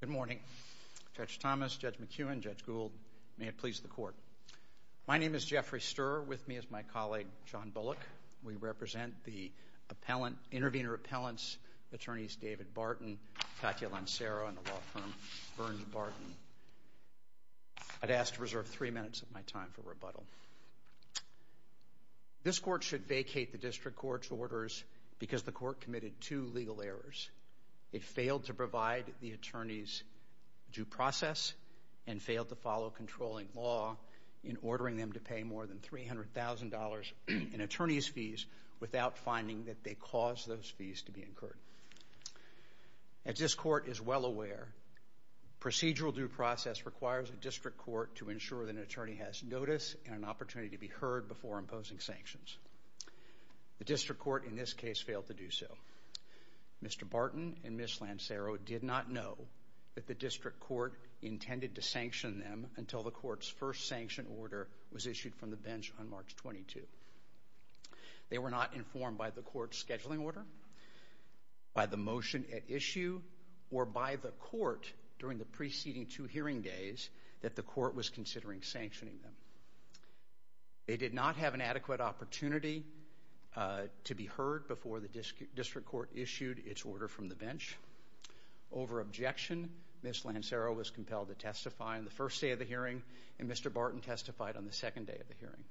Good morning. Judge Thomas, Judge McEwen, Judge Gould, may it please the Court. My name is Jeffrey Sturr. With me is my colleague, John Bullock. We represent the intervener appellants, Attorneys David Barton, Katya Lancero, and the law firm, Burns-Barton. I'd ask to reserve three minutes of my time for rebuttal. This Court should vacate the District Court's orders because the Court committed two legal errors. It failed to provide the attorneys due process and failed to follow controlling law in ordering them to pay more than $300,000 in attorney's fees without finding that they caused those fees to be incurred. As this Court is well aware, procedural due process requires a District Court to ensure that an attorney has notice and an opportunity to be heard before imposing sanctions. The District Court in this case failed to do so. Mr. Barton and Ms. Lancero did not know that the District Court intended to sanction them until the Court's first sanction order was issued from the bench on March 22. They were not informed by the Court's scheduling order, by the motion at issue, or by the Court during the preceding two hearing days that the Court was considering sanctioning them. They did not have an adequate opportunity to be heard before the District Court issued its order from the bench. Over objection, Ms. Lancero was compelled to testify on the first day of the hearing, and Mr. Barton testified on the second day of the hearing.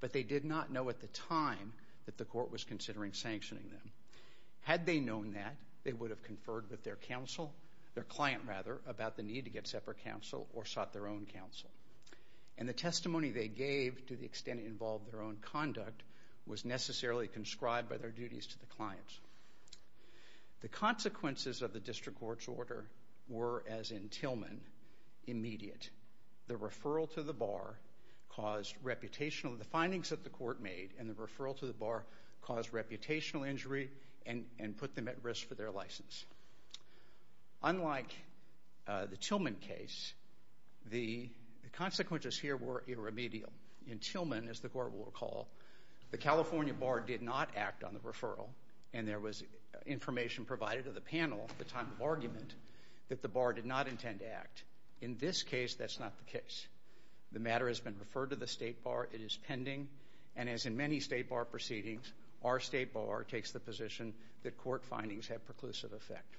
But they did not know at the time that the Court was considering sanctioning them. Had they known that, they would have conferred with their counsel, their client rather, about the need to get separate counsel or sought their own counsel. And the testimony they gave, to the extent it involved their own conduct, was necessarily conscribed by their duties to the client. The consequences of the District Court's order were, as in Tillman, immediate. The referral to the bar caused reputational... and put them at risk for their license. Unlike the Tillman case, the consequences here were irremedial. In Tillman, as the Court will recall, the California bar did not act on the referral, and there was information provided to the panel at the time of argument that the bar did not intend to act. In this case, that's not the case. The matter has been referred to the state bar. It is pending. And as in many state bar proceedings, our state bar takes the position that court findings have preclusive effect.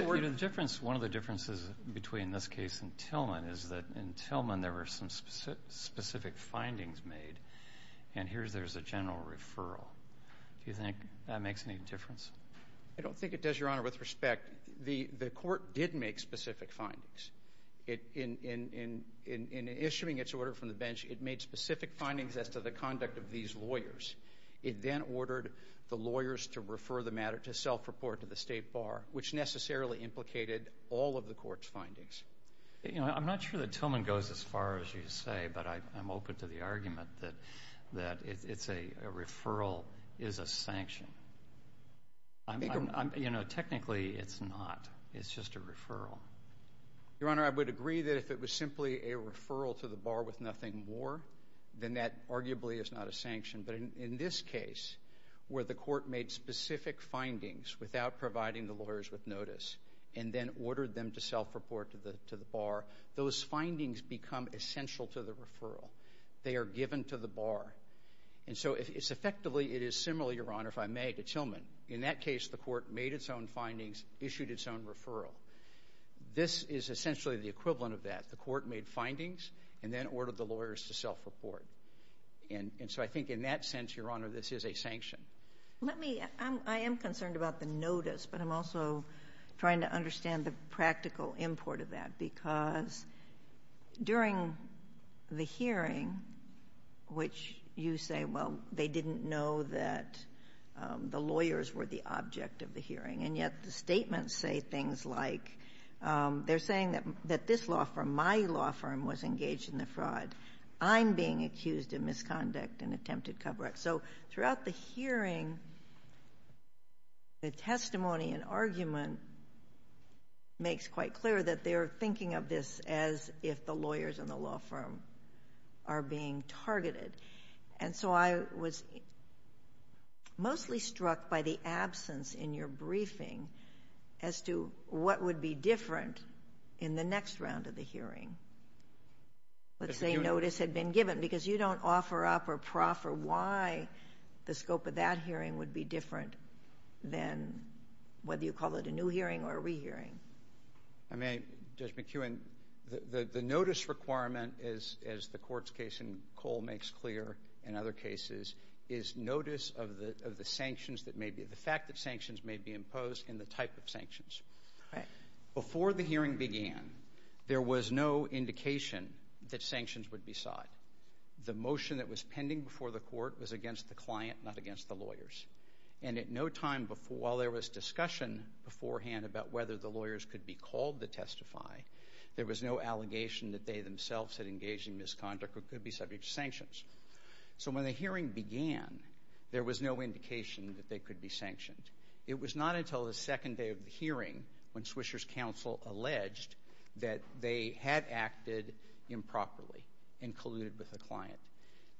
One of the differences between this case and Tillman is that in Tillman, there were some specific findings made, and here there's a general referral. Do you think that makes any difference? I don't think it does, Your Honor, with respect. The Court did make specific findings. In issuing its order from the bench, it made specific findings as to the conduct of these lawyers. It then ordered the lawyers to refer the matter to self-report to the state bar, which necessarily implicated all of the Court's findings. I'm not sure that Tillman goes as far as you say, but I'm open to the argument that a referral is a sanction. Technically, it's not. It's just a referral. Your Honor, I would agree that if it was simply a referral to the bar with nothing more, then that arguably is not a sanction. But in this case, where the Court made specific findings without providing the lawyers with notice and then ordered them to self-report to the bar, those findings become essential to the referral. They are given to the bar. And so effectively, it is similar, Your Honor, if I may, to Tillman. In that case, the Court made its own findings, issued its own referral. This is essentially the equivalent of that. The Court made findings and then ordered the lawyers to self-report. And so I think in that sense, Your Honor, this is a sanction. I am concerned about the notice, but I'm also trying to understand the practical import of that because during the hearing, which you say, well, they didn't know that the lawyers were the object of the hearing, and yet the statements say things like they're saying that this law firm, my law firm, was engaged in the fraud. I'm being accused of misconduct and attempted cover-up. So throughout the hearing, the testimony and argument makes quite clear that they're thinking of this as if the lawyers and the law firm are being targeted. And so I was mostly struck by the absence in your briefing as to what would be different in the next round of the hearing. Let's say notice had been given because you don't offer up or proffer why the scope of that hearing would be different than whether you call it a new hearing or a re-hearing. Judge McEwen, the notice requirement, as the Court's case in Cole makes clear in other cases, is notice of the sanctions that may be, the fact that sanctions may be imposed and the type of sanctions. Before the hearing began, there was no indication that sanctions would be sought. The motion that was pending before the Court was against the client, not against the lawyers. And at no time while there was discussion beforehand about whether the lawyers could be called to testify, there was no allegation that they themselves had engaged in misconduct or could be subject to sanctions. So when the hearing began, there was no indication that they could be sanctioned. It was not until the second day of the hearing when Swisher's counsel alleged that they had acted improperly and colluded with the client.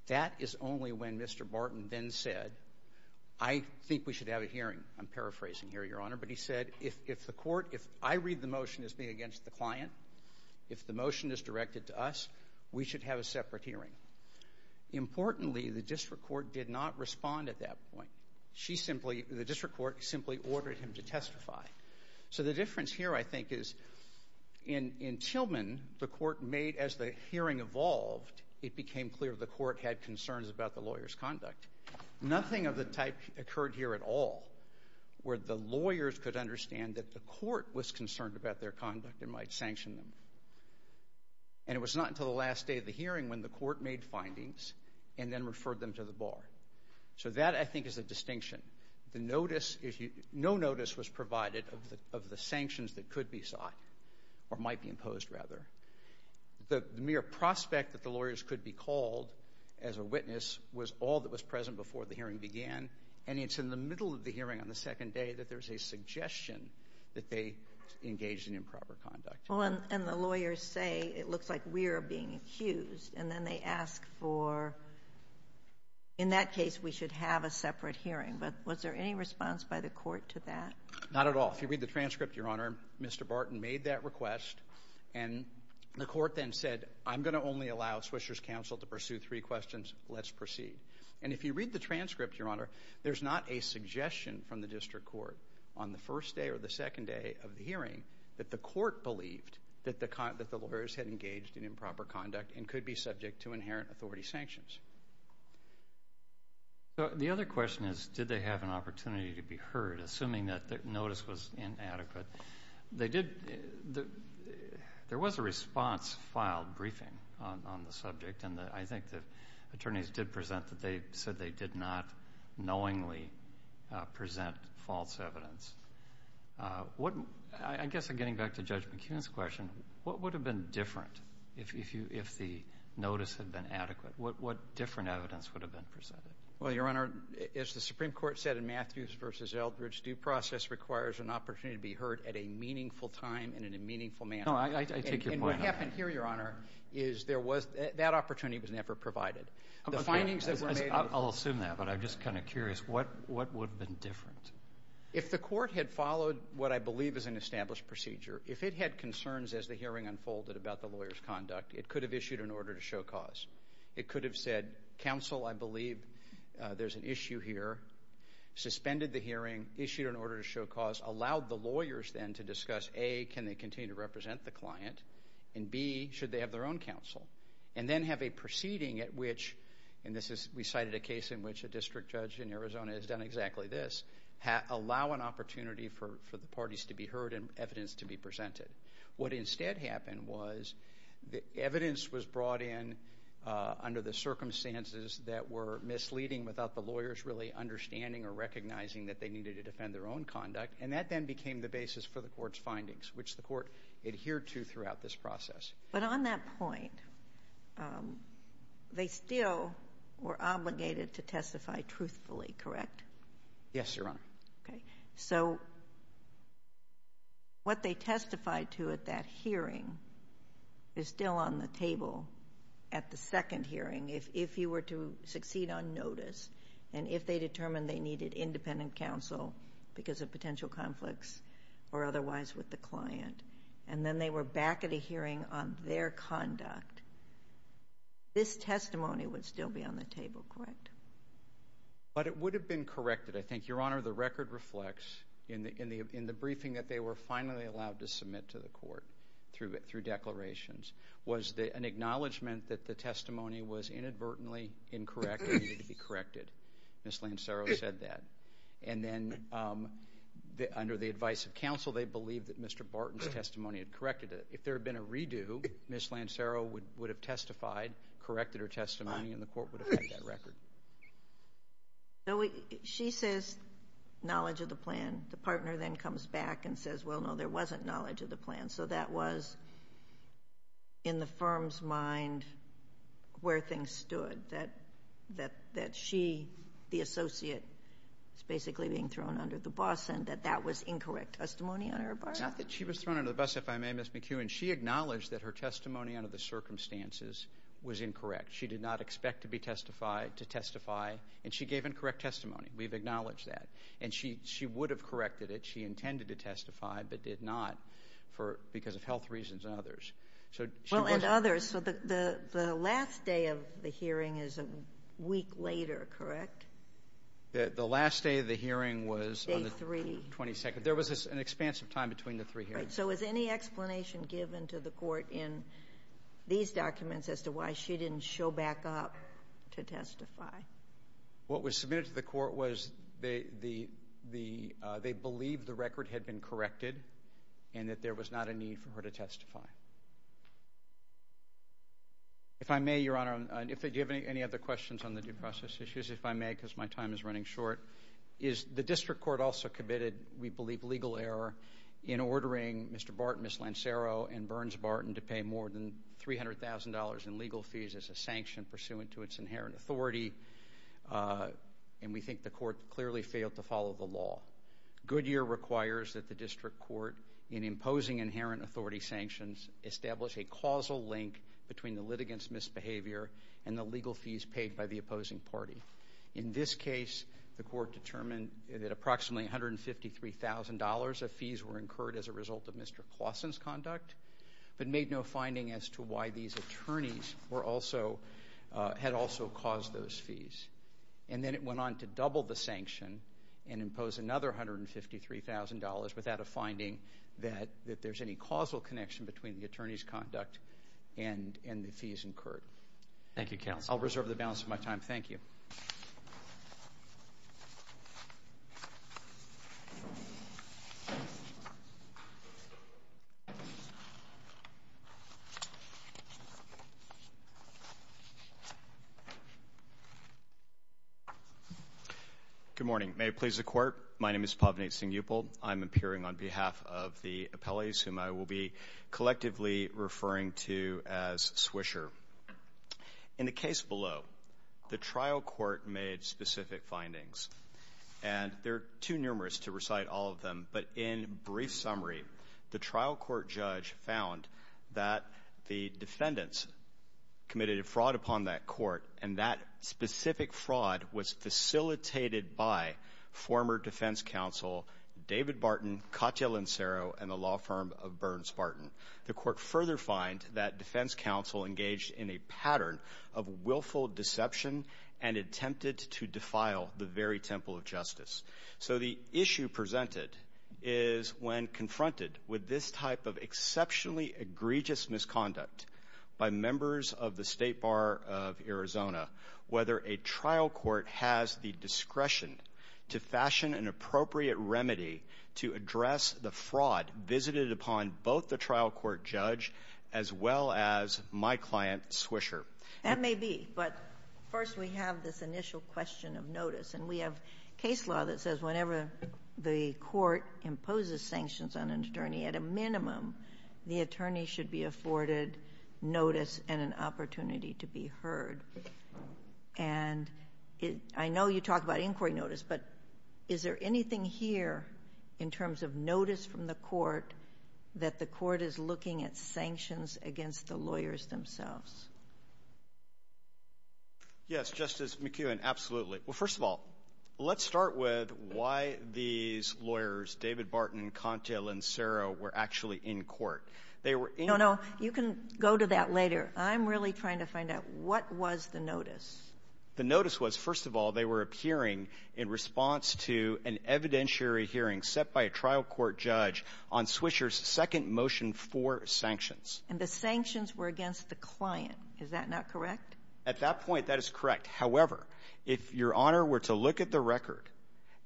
That is only when Mr. Barton then said, I think we should have a hearing. I'm paraphrasing here, Your Honor. But he said, if the Court, if I read the motion as being against the client, if the motion is directed to us, we should have a separate hearing. Importantly, the District Court did not respond at that point. She simply, the District Court simply ordered him to testify. So the difference here, I think, is in Tillman, the Court made as the hearing evolved, it became clear the Court had concerns about the lawyers' conduct. Nothing of the type occurred here at all where the lawyers could understand that the Court was concerned about their conduct and might sanction them. And it was not until the last day of the hearing when the Court made findings and then referred them to the Bar. So that, I think, is the distinction. The notice, if you, no notice was provided of the sanctions that could be sought or might be imposed, rather. The mere prospect that the lawyers could be called as a witness was all that was present before the hearing began, and it's in the middle of the hearing on the second day that there's a suggestion that they engaged in improper conduct. Well, and the lawyers say, it looks like we are being accused. And then they ask for, in that case, we should have a separate hearing. But was there any response by the Court to that? Not at all. If you read the transcript, Your Honor, Mr. Barton made that request, and the Court then said, I'm going to only allow Swisher's counsel to pursue three questions. Let's proceed. And if you read the transcript, Your Honor, there's not a suggestion from the District Court on the first day or the second day of the hearing that the Court believed that the lawyers had engaged in improper conduct and could be subject to inherent authority sanctions. The other question is, did they have an opportunity to be heard, assuming that the notice was inadequate? There was a response filed briefing on the subject, and I think the attorneys did present that they said they did not knowingly present false evidence. I guess in getting back to Judge McKeon's question, what would have been different if the notice had been adequate? What different evidence would have been presented? Well, Your Honor, as the Supreme Court said in Matthews v. Eldridge, due process requires an opportunity to be heard at a meaningful time and in a meaningful manner. No, I take your point. And what happened here, Your Honor, is that opportunity was never provided. I'll assume that, but I'm just kind of curious. What would have been different? If the Court had followed what I believe is an established procedure, if it had concerns as the hearing unfolded about the lawyers' conduct, it could have issued an order to show cause. It could have said, Counsel, I believe there's an issue here, suspended the hearing, issued an order to show cause, allowed the lawyers then to discuss, A, can they continue to represent the client, and B, should they have their own counsel, and then have a proceeding at which, and we cited a case in which a district judge in Arizona has done exactly this, allow an opportunity for the parties to be heard and evidence to be presented. What instead happened was the evidence was brought in under the circumstances that were misleading without the lawyers really understanding or recognizing that they needed to defend their own conduct, and that then became the basis for the Court's findings, which the Court adhered to throughout this process. But on that point, they still were obligated to testify truthfully, correct? Yes, Your Honor. Okay. So what they testified to at that hearing is still on the table at the second hearing. If you were to succeed on notice and if they determined they needed independent counsel because of potential conflicts or otherwise with the client, and then they were back at a hearing on their conduct, this testimony would still be on the table, correct? But it would have been corrected, I think. Your Honor, the record reflects in the briefing that they were finally allowed to submit to the Court through declarations was an acknowledgment that the testimony was inadvertently incorrect and needed to be corrected. Ms. Lancero said that. And then under the advice of counsel, they believed that Mr. Barton's testimony had corrected it. If there had been a redo, Ms. Lancero would have testified, corrected her testimony, and the Court would have had that record. She says knowledge of the plan. The partner then comes back and says, well, no, there wasn't knowledge of the plan. And so that was in the firm's mind where things stood, that she, the associate, was basically being thrown under the bus and that that was incorrect testimony on her part? Not that she was thrown under the bus, if I may, Ms. McEwen. She acknowledged that her testimony under the circumstances was incorrect. She did not expect to be testified, to testify, and she gave incorrect testimony. We've acknowledged that. And she would have corrected it. She intended to testify but did not because of health reasons and others. Well, and others. So the last day of the hearing is a week later, correct? The last day of the hearing was on the 22nd. There was an expansive time between the three hearings. Right. So is any explanation given to the Court in these documents as to why she didn't show back up to testify? What was submitted to the Court was they believed the record had been corrected and that there was not a need for her to testify. If I may, Your Honor, if you have any other questions on the due process issues, if I may, because my time is running short, is the District Court also committed, we believe, legal error in ordering Mr. Barton, Ms. Lancero, and Burns-Barton to pay more than $300,000 in legal fees as a sanction pursuant to its inherent authority. And we think the Court clearly failed to follow the law. Goodyear requires that the District Court, in imposing inherent authority sanctions, establish a causal link between the litigants' misbehavior and the legal fees paid by the opposing party. In this case, the Court determined that approximately $153,000 of fees were incurred as a result of Mr. Claussen's conduct but made no finding as to why these attorneys had also caused those fees. And then it went on to double the sanction and impose another $153,000 without a finding that there's any causal connection between the attorney's conduct and the fees incurred. Thank you, counsel. I'll reserve the balance of my time. Thank you. Thank you. Good morning. May it please the Court, my name is Pavneet Singupal. I'm appearing on behalf of the appellees whom I will be collectively referring to as Swisher. In the case below, the trial court made specific findings, and they're too numerous to recite all of them, but in brief summary, the trial court judge found that the defendants committed a fraud upon that court, and that specific fraud was facilitated by former defense counsel David Barton, Katya Lansero, and the law firm of Burns-Barton. The court further fined that defense counsel engaged in a pattern of willful deception and attempted to defile the very temple of justice. So the issue presented is when confronted with this type of exceptionally egregious misconduct by members of the State Bar of Arizona, whether a trial court has the discretion to fashion an appropriate remedy to address the fraud visited upon both the trial court judge as well as my client, Swisher. That may be, but first we have this initial question of notice, and we have case law that says whenever the court imposes sanctions on an attorney, at a minimum the attorney should be afforded notice and an opportunity to be heard. And I know you talk about inquiry notice, but is there anything here in terms of notice from the court that the court is looking at sanctions against the lawyers themselves? Yes, Justice McKeown, absolutely. Well, first of all, let's start with why these lawyers, David Barton, Katya Lansero, were actually in court. They were in the court. No, no. You can go to that later. I'm really trying to find out what was the notice. The notice was, first of all, they were appearing in response to an evidentiary hearing set by a trial court judge on Swisher's second motion for sanctions. And the sanctions were against the client. Is that not correct? At that point, that is correct. However, if Your Honor were to look at the record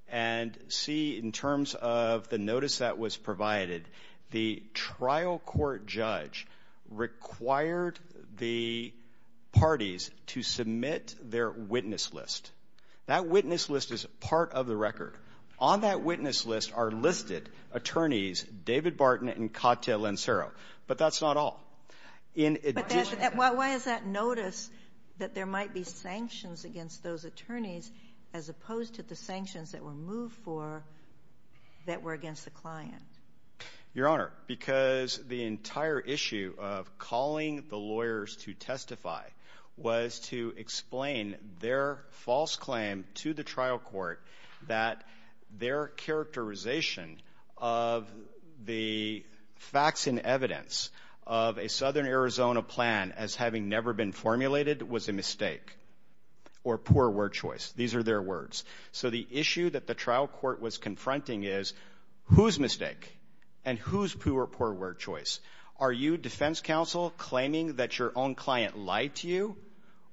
and see in terms of the notice that was provided, the trial court judge required the parties to submit their witness list. That witness list is part of the record. On that witness list are listed attorneys David Barton and Katya Lansero. But that's not all. Why is that notice that there might be sanctions against those attorneys as opposed to the sanctions that were moved for that were against the client? Your Honor, because the entire issue of calling the lawyers to testify was to explain their false claim to the trial court that their characterization of the facts and evidence of a Southern Arizona plan as having never been formulated was a mistake or poor word choice. These are their words. So the issue that the trial court was confronting is whose mistake and whose poor word choice? Are you, defense counsel, claiming that your own client lied to you?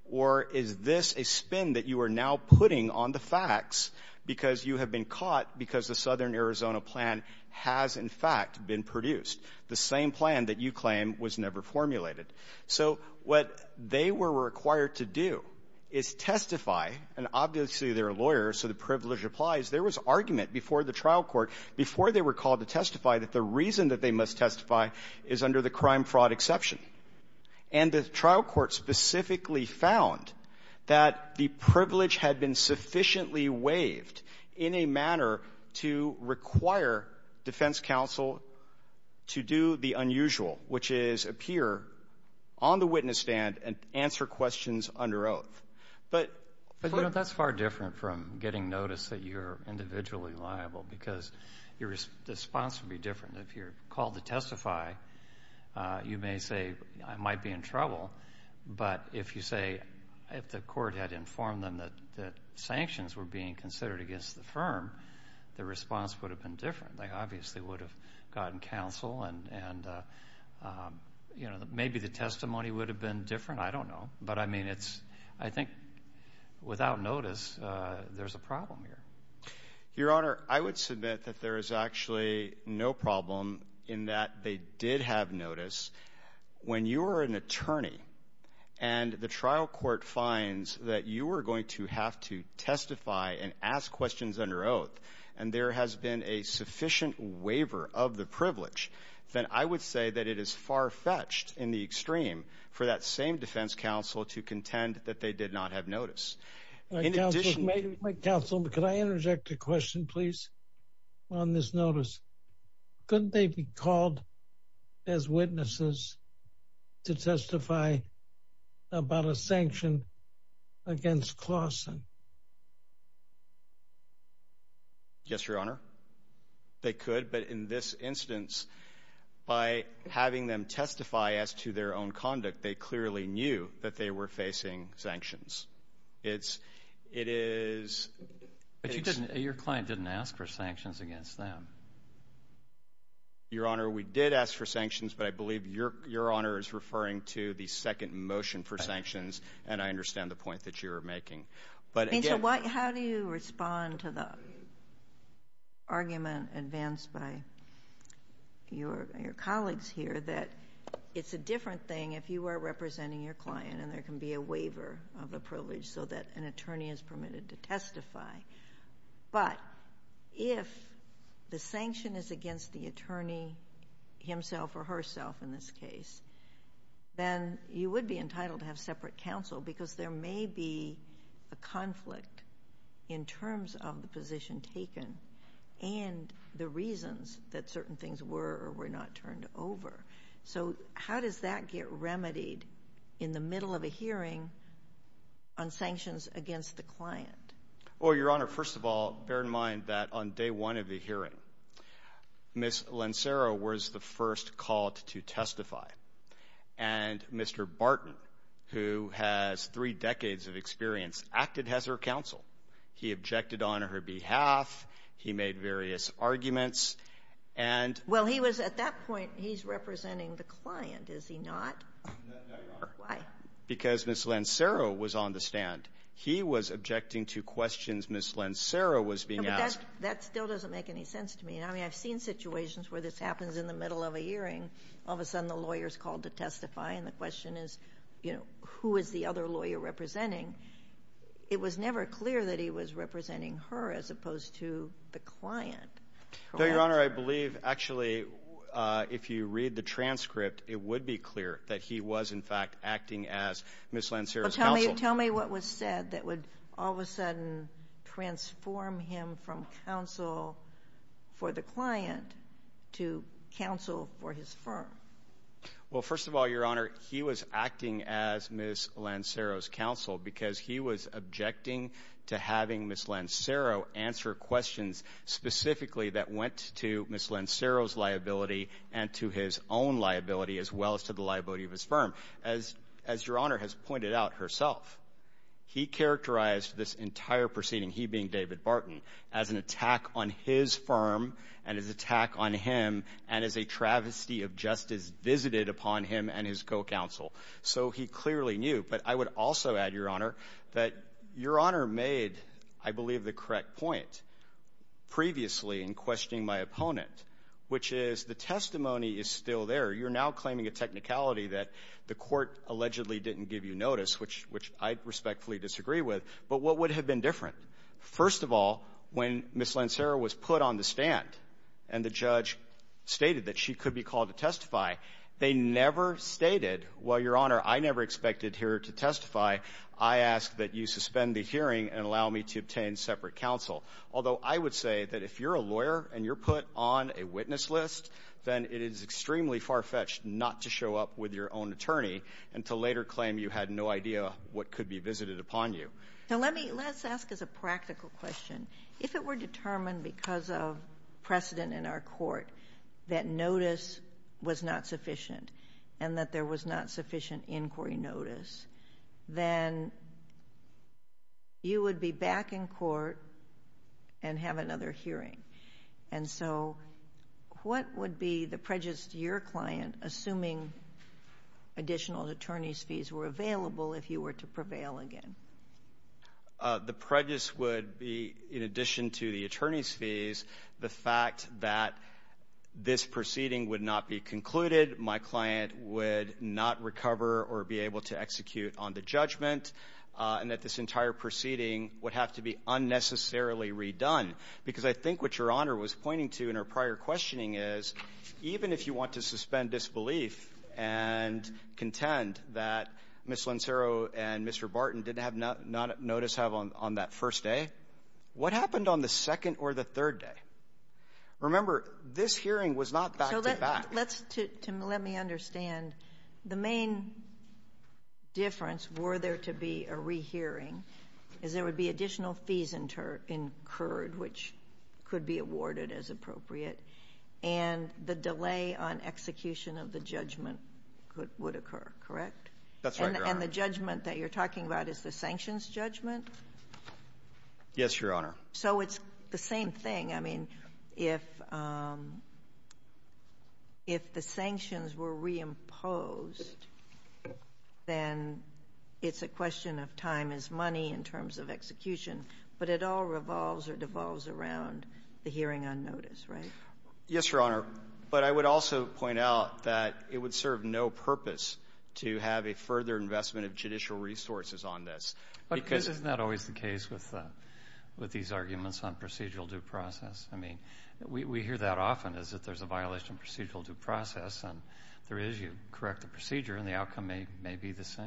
Or is this a spin that you are now putting on the facts because you have been caught because the Southern Arizona plan has, in fact, been produced? The same plan that you claim was never formulated. So what they were required to do is testify, and obviously, they're a lawyer, so the privilege applies. There was argument before the trial court, before they were called to testify, that the reason that they must testify is under the crime-fraud exception. And the trial court specifically found that the privilege had been sufficiently waived in a manner to require defense counsel to do the unusual, which is appear on the witness stand and answer questions under oath. But you know, that's far different from getting notice that you're individually liable, because your response would be different. If you're called to testify, you may say, I might be in trouble. But if you say, if the court had informed them that sanctions were being considered against the firm, the response would have been different. They obviously would have gotten counsel, and maybe the testimony would have been different. I don't know. But I mean, I think without notice, there's a problem here. Your Honor, I would submit that there is actually no problem in that they did have notice. When you are an attorney and the trial court finds that you are going to have to testify and ask questions under oath, and there has been a sufficient waiver of the privilege, then I would say that it is far-fetched in the extreme for that same defense counsel to contend that they did not have notice. In addition... My counsel, could I interject a question, please, on this notice? Couldn't they be called as witnesses to testify about a sanction against Clawson? Yes, Your Honor, they could. But in this instance, by having them testify as to their own conduct, they clearly knew that they were facing sanctions. It is... Your client didn't ask for sanctions against them. Your Honor, we did ask for sanctions, but I believe Your Honor is referring to the second motion for sanctions, and I understand the point that you are making. How do you respond to the argument advanced by your colleagues here that it's a different thing if you are representing your client and there can be a waiver of privilege to testify, but if the sanction is against the attorney himself or herself in this case, then you would be entitled to have separate counsel because there may be a conflict in terms of the position taken and the reasons that certain things were or were not turned over. So how does that get remedied in the middle of a hearing on sanctions against the client? Well, Your Honor, first of all, bear in mind that on day one of the hearing, Ms. Lancero was the first called to testify, and Mr. Barton, who has three decades of experience, acted as her counsel. He objected on her behalf. He made various arguments, and... Is he not? No, Your Honor. Why? Because Ms. Lancero was on the stand. He was objecting to questions Ms. Lancero was being asked. No, but that still doesn't make any sense to me. I mean, I've seen situations where this happens in the middle of a hearing. All of a sudden, the lawyer is called to testify, and the question is, you know, who is the other lawyer representing? It was never clear that he was representing her as opposed to the client. No, Your Honor, I believe, actually, if you read the transcript, it would be clear that he was, in fact, acting as Ms. Lancero's counsel. Tell me what was said that would all of a sudden transform him from counsel for the client to counsel for his firm. Well, first of all, Your Honor, he was acting as Ms. Lancero's counsel because he was objecting to having Ms. Lancero answer questions specifically that went to Ms. Lancero's liability and to his own liability as well as to the liability of his firm. As Your Honor has pointed out herself, he characterized this entire proceeding, he being David Barton, as an attack on his firm and as an attack on him and as a travesty of justice visited upon him and his co-counsel. So he clearly knew. But I would also add, Your Honor, that Your Honor made, I believe, the correct point previously in questioning my opponent, which is the testimony is still there. You're now claiming a technicality that the court allegedly didn't give you notice, which I respectfully disagree with. But what would have been different? First of all, when Ms. Lancero was put on the stand and the judge stated that she Your Honor, I never expected here to testify. I ask that you suspend the hearing and allow me to obtain separate counsel. Although I would say that if you're a lawyer and you're put on a witness list, then it is extremely far-fetched not to show up with your own attorney and to later claim you had no idea what could be visited upon you. Now, let's ask as a practical question. If it were determined because of precedent in our court that notice was not sufficient and that there was not sufficient inquiry notice, then you would be back in court and have another hearing. And so what would be the prejudice to your client, assuming additional attorney's fees were available if you were to prevail again? The prejudice would be, in addition to the attorney's fees, the fact that this proceeding would not be concluded. My client would not recover or be able to execute on the judgment, and that this entire proceeding would have to be unnecessarily redone. Because I think what Your Honor was pointing to in her prior questioning is, even if you want to suspend disbelief and contend that Ms. Lancero and Mr. Barton did not have notice on that first day, what happened on the second or the third day? Remember, this hearing was not back-to-back. Let me understand. The main difference, were there to be a rehearing, is there would be additional fees incurred, which could be awarded as appropriate, and the delay on execution of the judgment would occur, correct? That's right, Your Honor. And the judgment that you're talking about is the sanctions judgment? Yes, Your Honor. So it's the same thing. I mean, if the sanctions were reimposed, then it's a question of time is money in terms of execution. But it all revolves or devolves around the hearing on notice, right? Yes, Your Honor. But I would also point out that it would serve no purpose to have a further investment of judicial resources on this. Isn't that always the case with these arguments on procedural due process? I mean, we hear that often, is that there's a violation of procedural due process, and there is. You correct the procedure, and the outcome may be the same.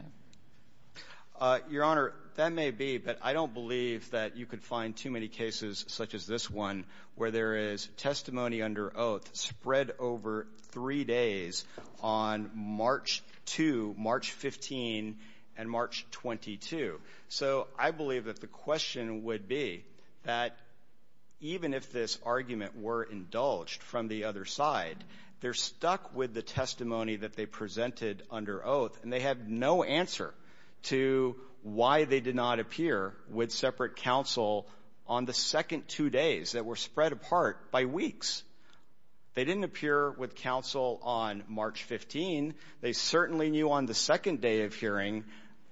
Your Honor, that may be. But I don't believe that you could find too many cases such as this one, where there is testimony under oath spread over three days on March 2, March 15, and March 22. So I believe that the question would be that even if this argument were indulged from the other side, they're stuck with the testimony that they presented under oath, and they have no answer to why they did not appear with separate counsel on the second two days that were spread apart by weeks. They didn't appear with counsel on March 15. They certainly knew on the second day of hearing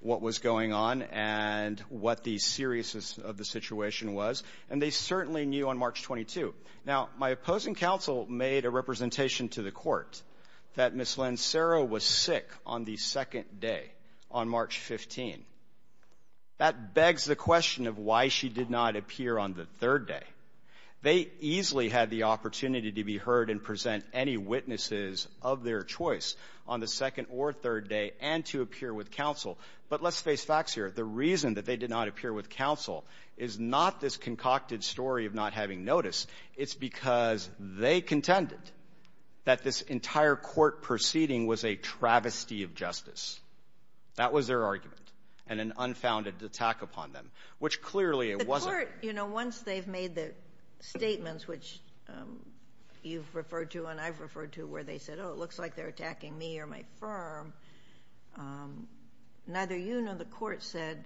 what was going on and what the seriousness of the situation was, and they certainly knew on March 22. Now, my opposing counsel made a representation to the Court that Ms. Lansero was sick on the second day, on March 15. That begs the question of why she did not appear on the third day. They easily had the opportunity to be heard and present any witnesses of their choice on the second or third day and to appear with counsel. But let's face facts here. The reason that they did not appear with counsel is not this concocted story of not having noticed. It's because they contended that this entire court proceeding was a travesty of justice. That was their argument, and an unfounded attack upon them, which clearly it wasn't. The Court, you know, once they've made the statements, which you've referred to and I've referred to, where they said, oh, it looks like they're attacking me or my firm, neither you nor the Court said,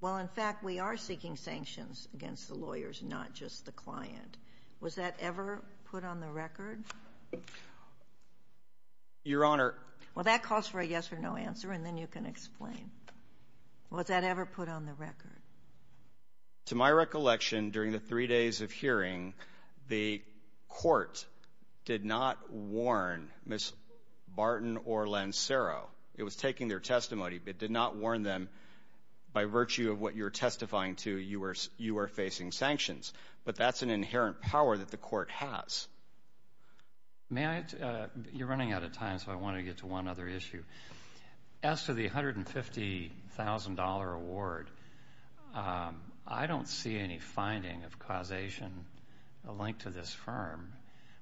well, in fact, we are seeking sanctions against the lawyers, not just the client. Was that ever put on the record? Your Honor. Well, that calls for a yes or no answer, and then you can explain. Was that ever put on the record? To my recollection, during the three days of hearing, the Court did not warn Ms. Barton or Lancero. It was taking their testimony, but it did not warn them, by virtue of what you're testifying to, you are facing sanctions. But that's an inherent power that the Court has. You're running out of time, so I want to get to one other issue. As to the $150,000 award, I don't see any finding of causation linked to this firm.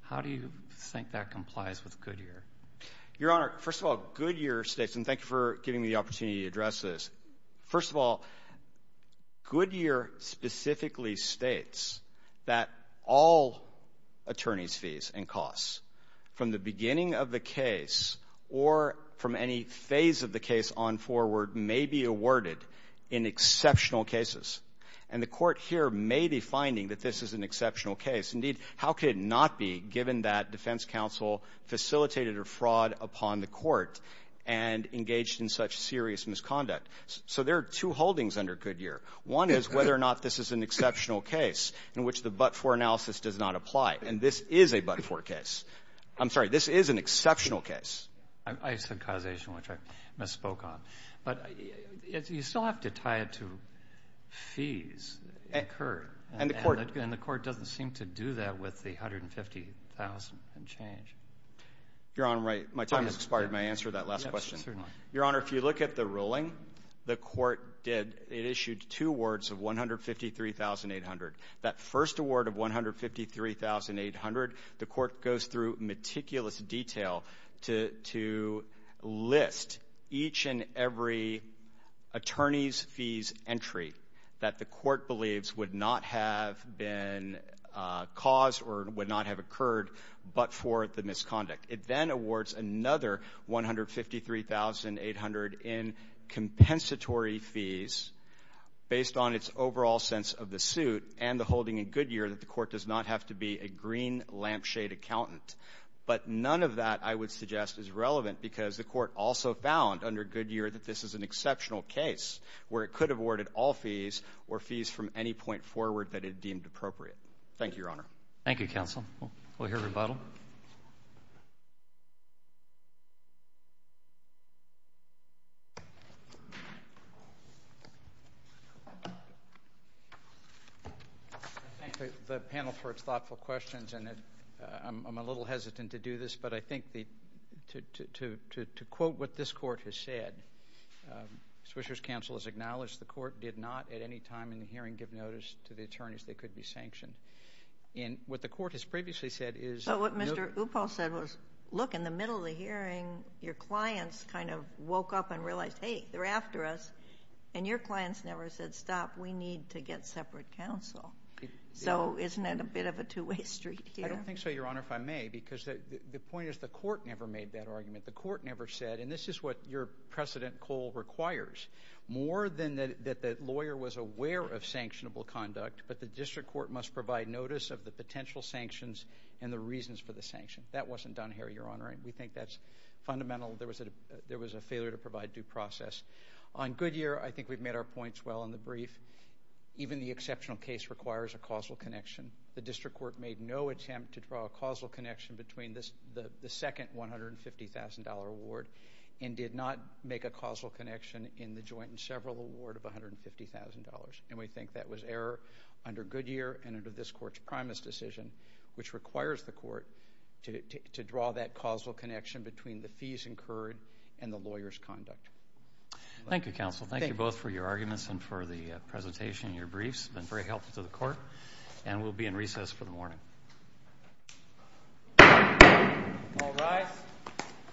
How do you think that complies with Goodyear? Your Honor, first of all, Goodyear states, and thank you for giving me the opportunity to address this. First of all, Goodyear specifically states that all attorney's fees and costs from the beginning of the case or from any phase of the case on forward may be awarded in exceptional cases. And the Court here may be finding that this is an exceptional case. Indeed, how could it not be, given that defense counsel facilitated a fraud upon the Court and engaged in such serious misconduct? So there are two holdings under Goodyear. One is whether or not this is an exceptional case in which the but-for analysis does not apply. And this is a but-for case. I'm sorry, this is an exceptional case. I said causation, which I misspoke on. But you still have to tie it to fees incurred. And the Court doesn't seem to do that with the $150,000 change. Your Honor, my time has expired. May I answer that last question? Certainly. Your Honor, if you look at the ruling, the Court did issue two awards of $153,800. That first award of $153,800, the Court goes through meticulous detail to list each and every attorney's fees entry that the Court believes would not have been caused or would not have occurred but for the misconduct. It then awards another $153,800 in compensatory fees based on its overall sense of the holding in Goodyear that the Court does not have to be a green lampshade accountant. But none of that, I would suggest, is relevant because the Court also found under Goodyear that this is an exceptional case where it could have awarded all fees or fees from any point forward that it deemed appropriate. Thank you, Your Honor. Thank you, counsel. We'll hear rebuttal. I thank the panel for its thoughtful questions, and I'm a little hesitant to do this, but I think to quote what this Court has said, Swisher's counsel has acknowledged the Court did not at any time in the hearing give notice to the attorneys they could be sanctioned. And what the Court has previously said is— But what Mr. Uphoff said was, look, in the middle of the hearing, your clients kind of woke up and realized, hey, they're after us, and your clients never said, stop, we need to get separate counsel. So isn't that a bit of a two-way street here? I don't think so, Your Honor, if I may, because the point is the Court never made that argument. The Court never said, and this is what your precedent, Cole, requires, more than that the lawyer was aware of sanctionable conduct, but the district court must provide notice of the potential sanctions and the reasons for the sanction. That wasn't done here, Your Honor, and we think that's fundamental. There was a failure to provide due process. On Goodyear, I think we've made our points well in the brief. Even the exceptional case requires a causal connection. The district court made no attempt to draw a causal connection between the second $150,000 and did not make a causal connection in the joint and several award of $150,000, and we think that was error under Goodyear and under this Court's primus decision, which requires the Court to draw that causal connection between the fees incurred and the lawyer's conduct. Thank you, counsel. Thank you both for your arguments and for the presentation and your briefs. It's been very helpful to the Court, and we'll be in recess for the morning. All rise.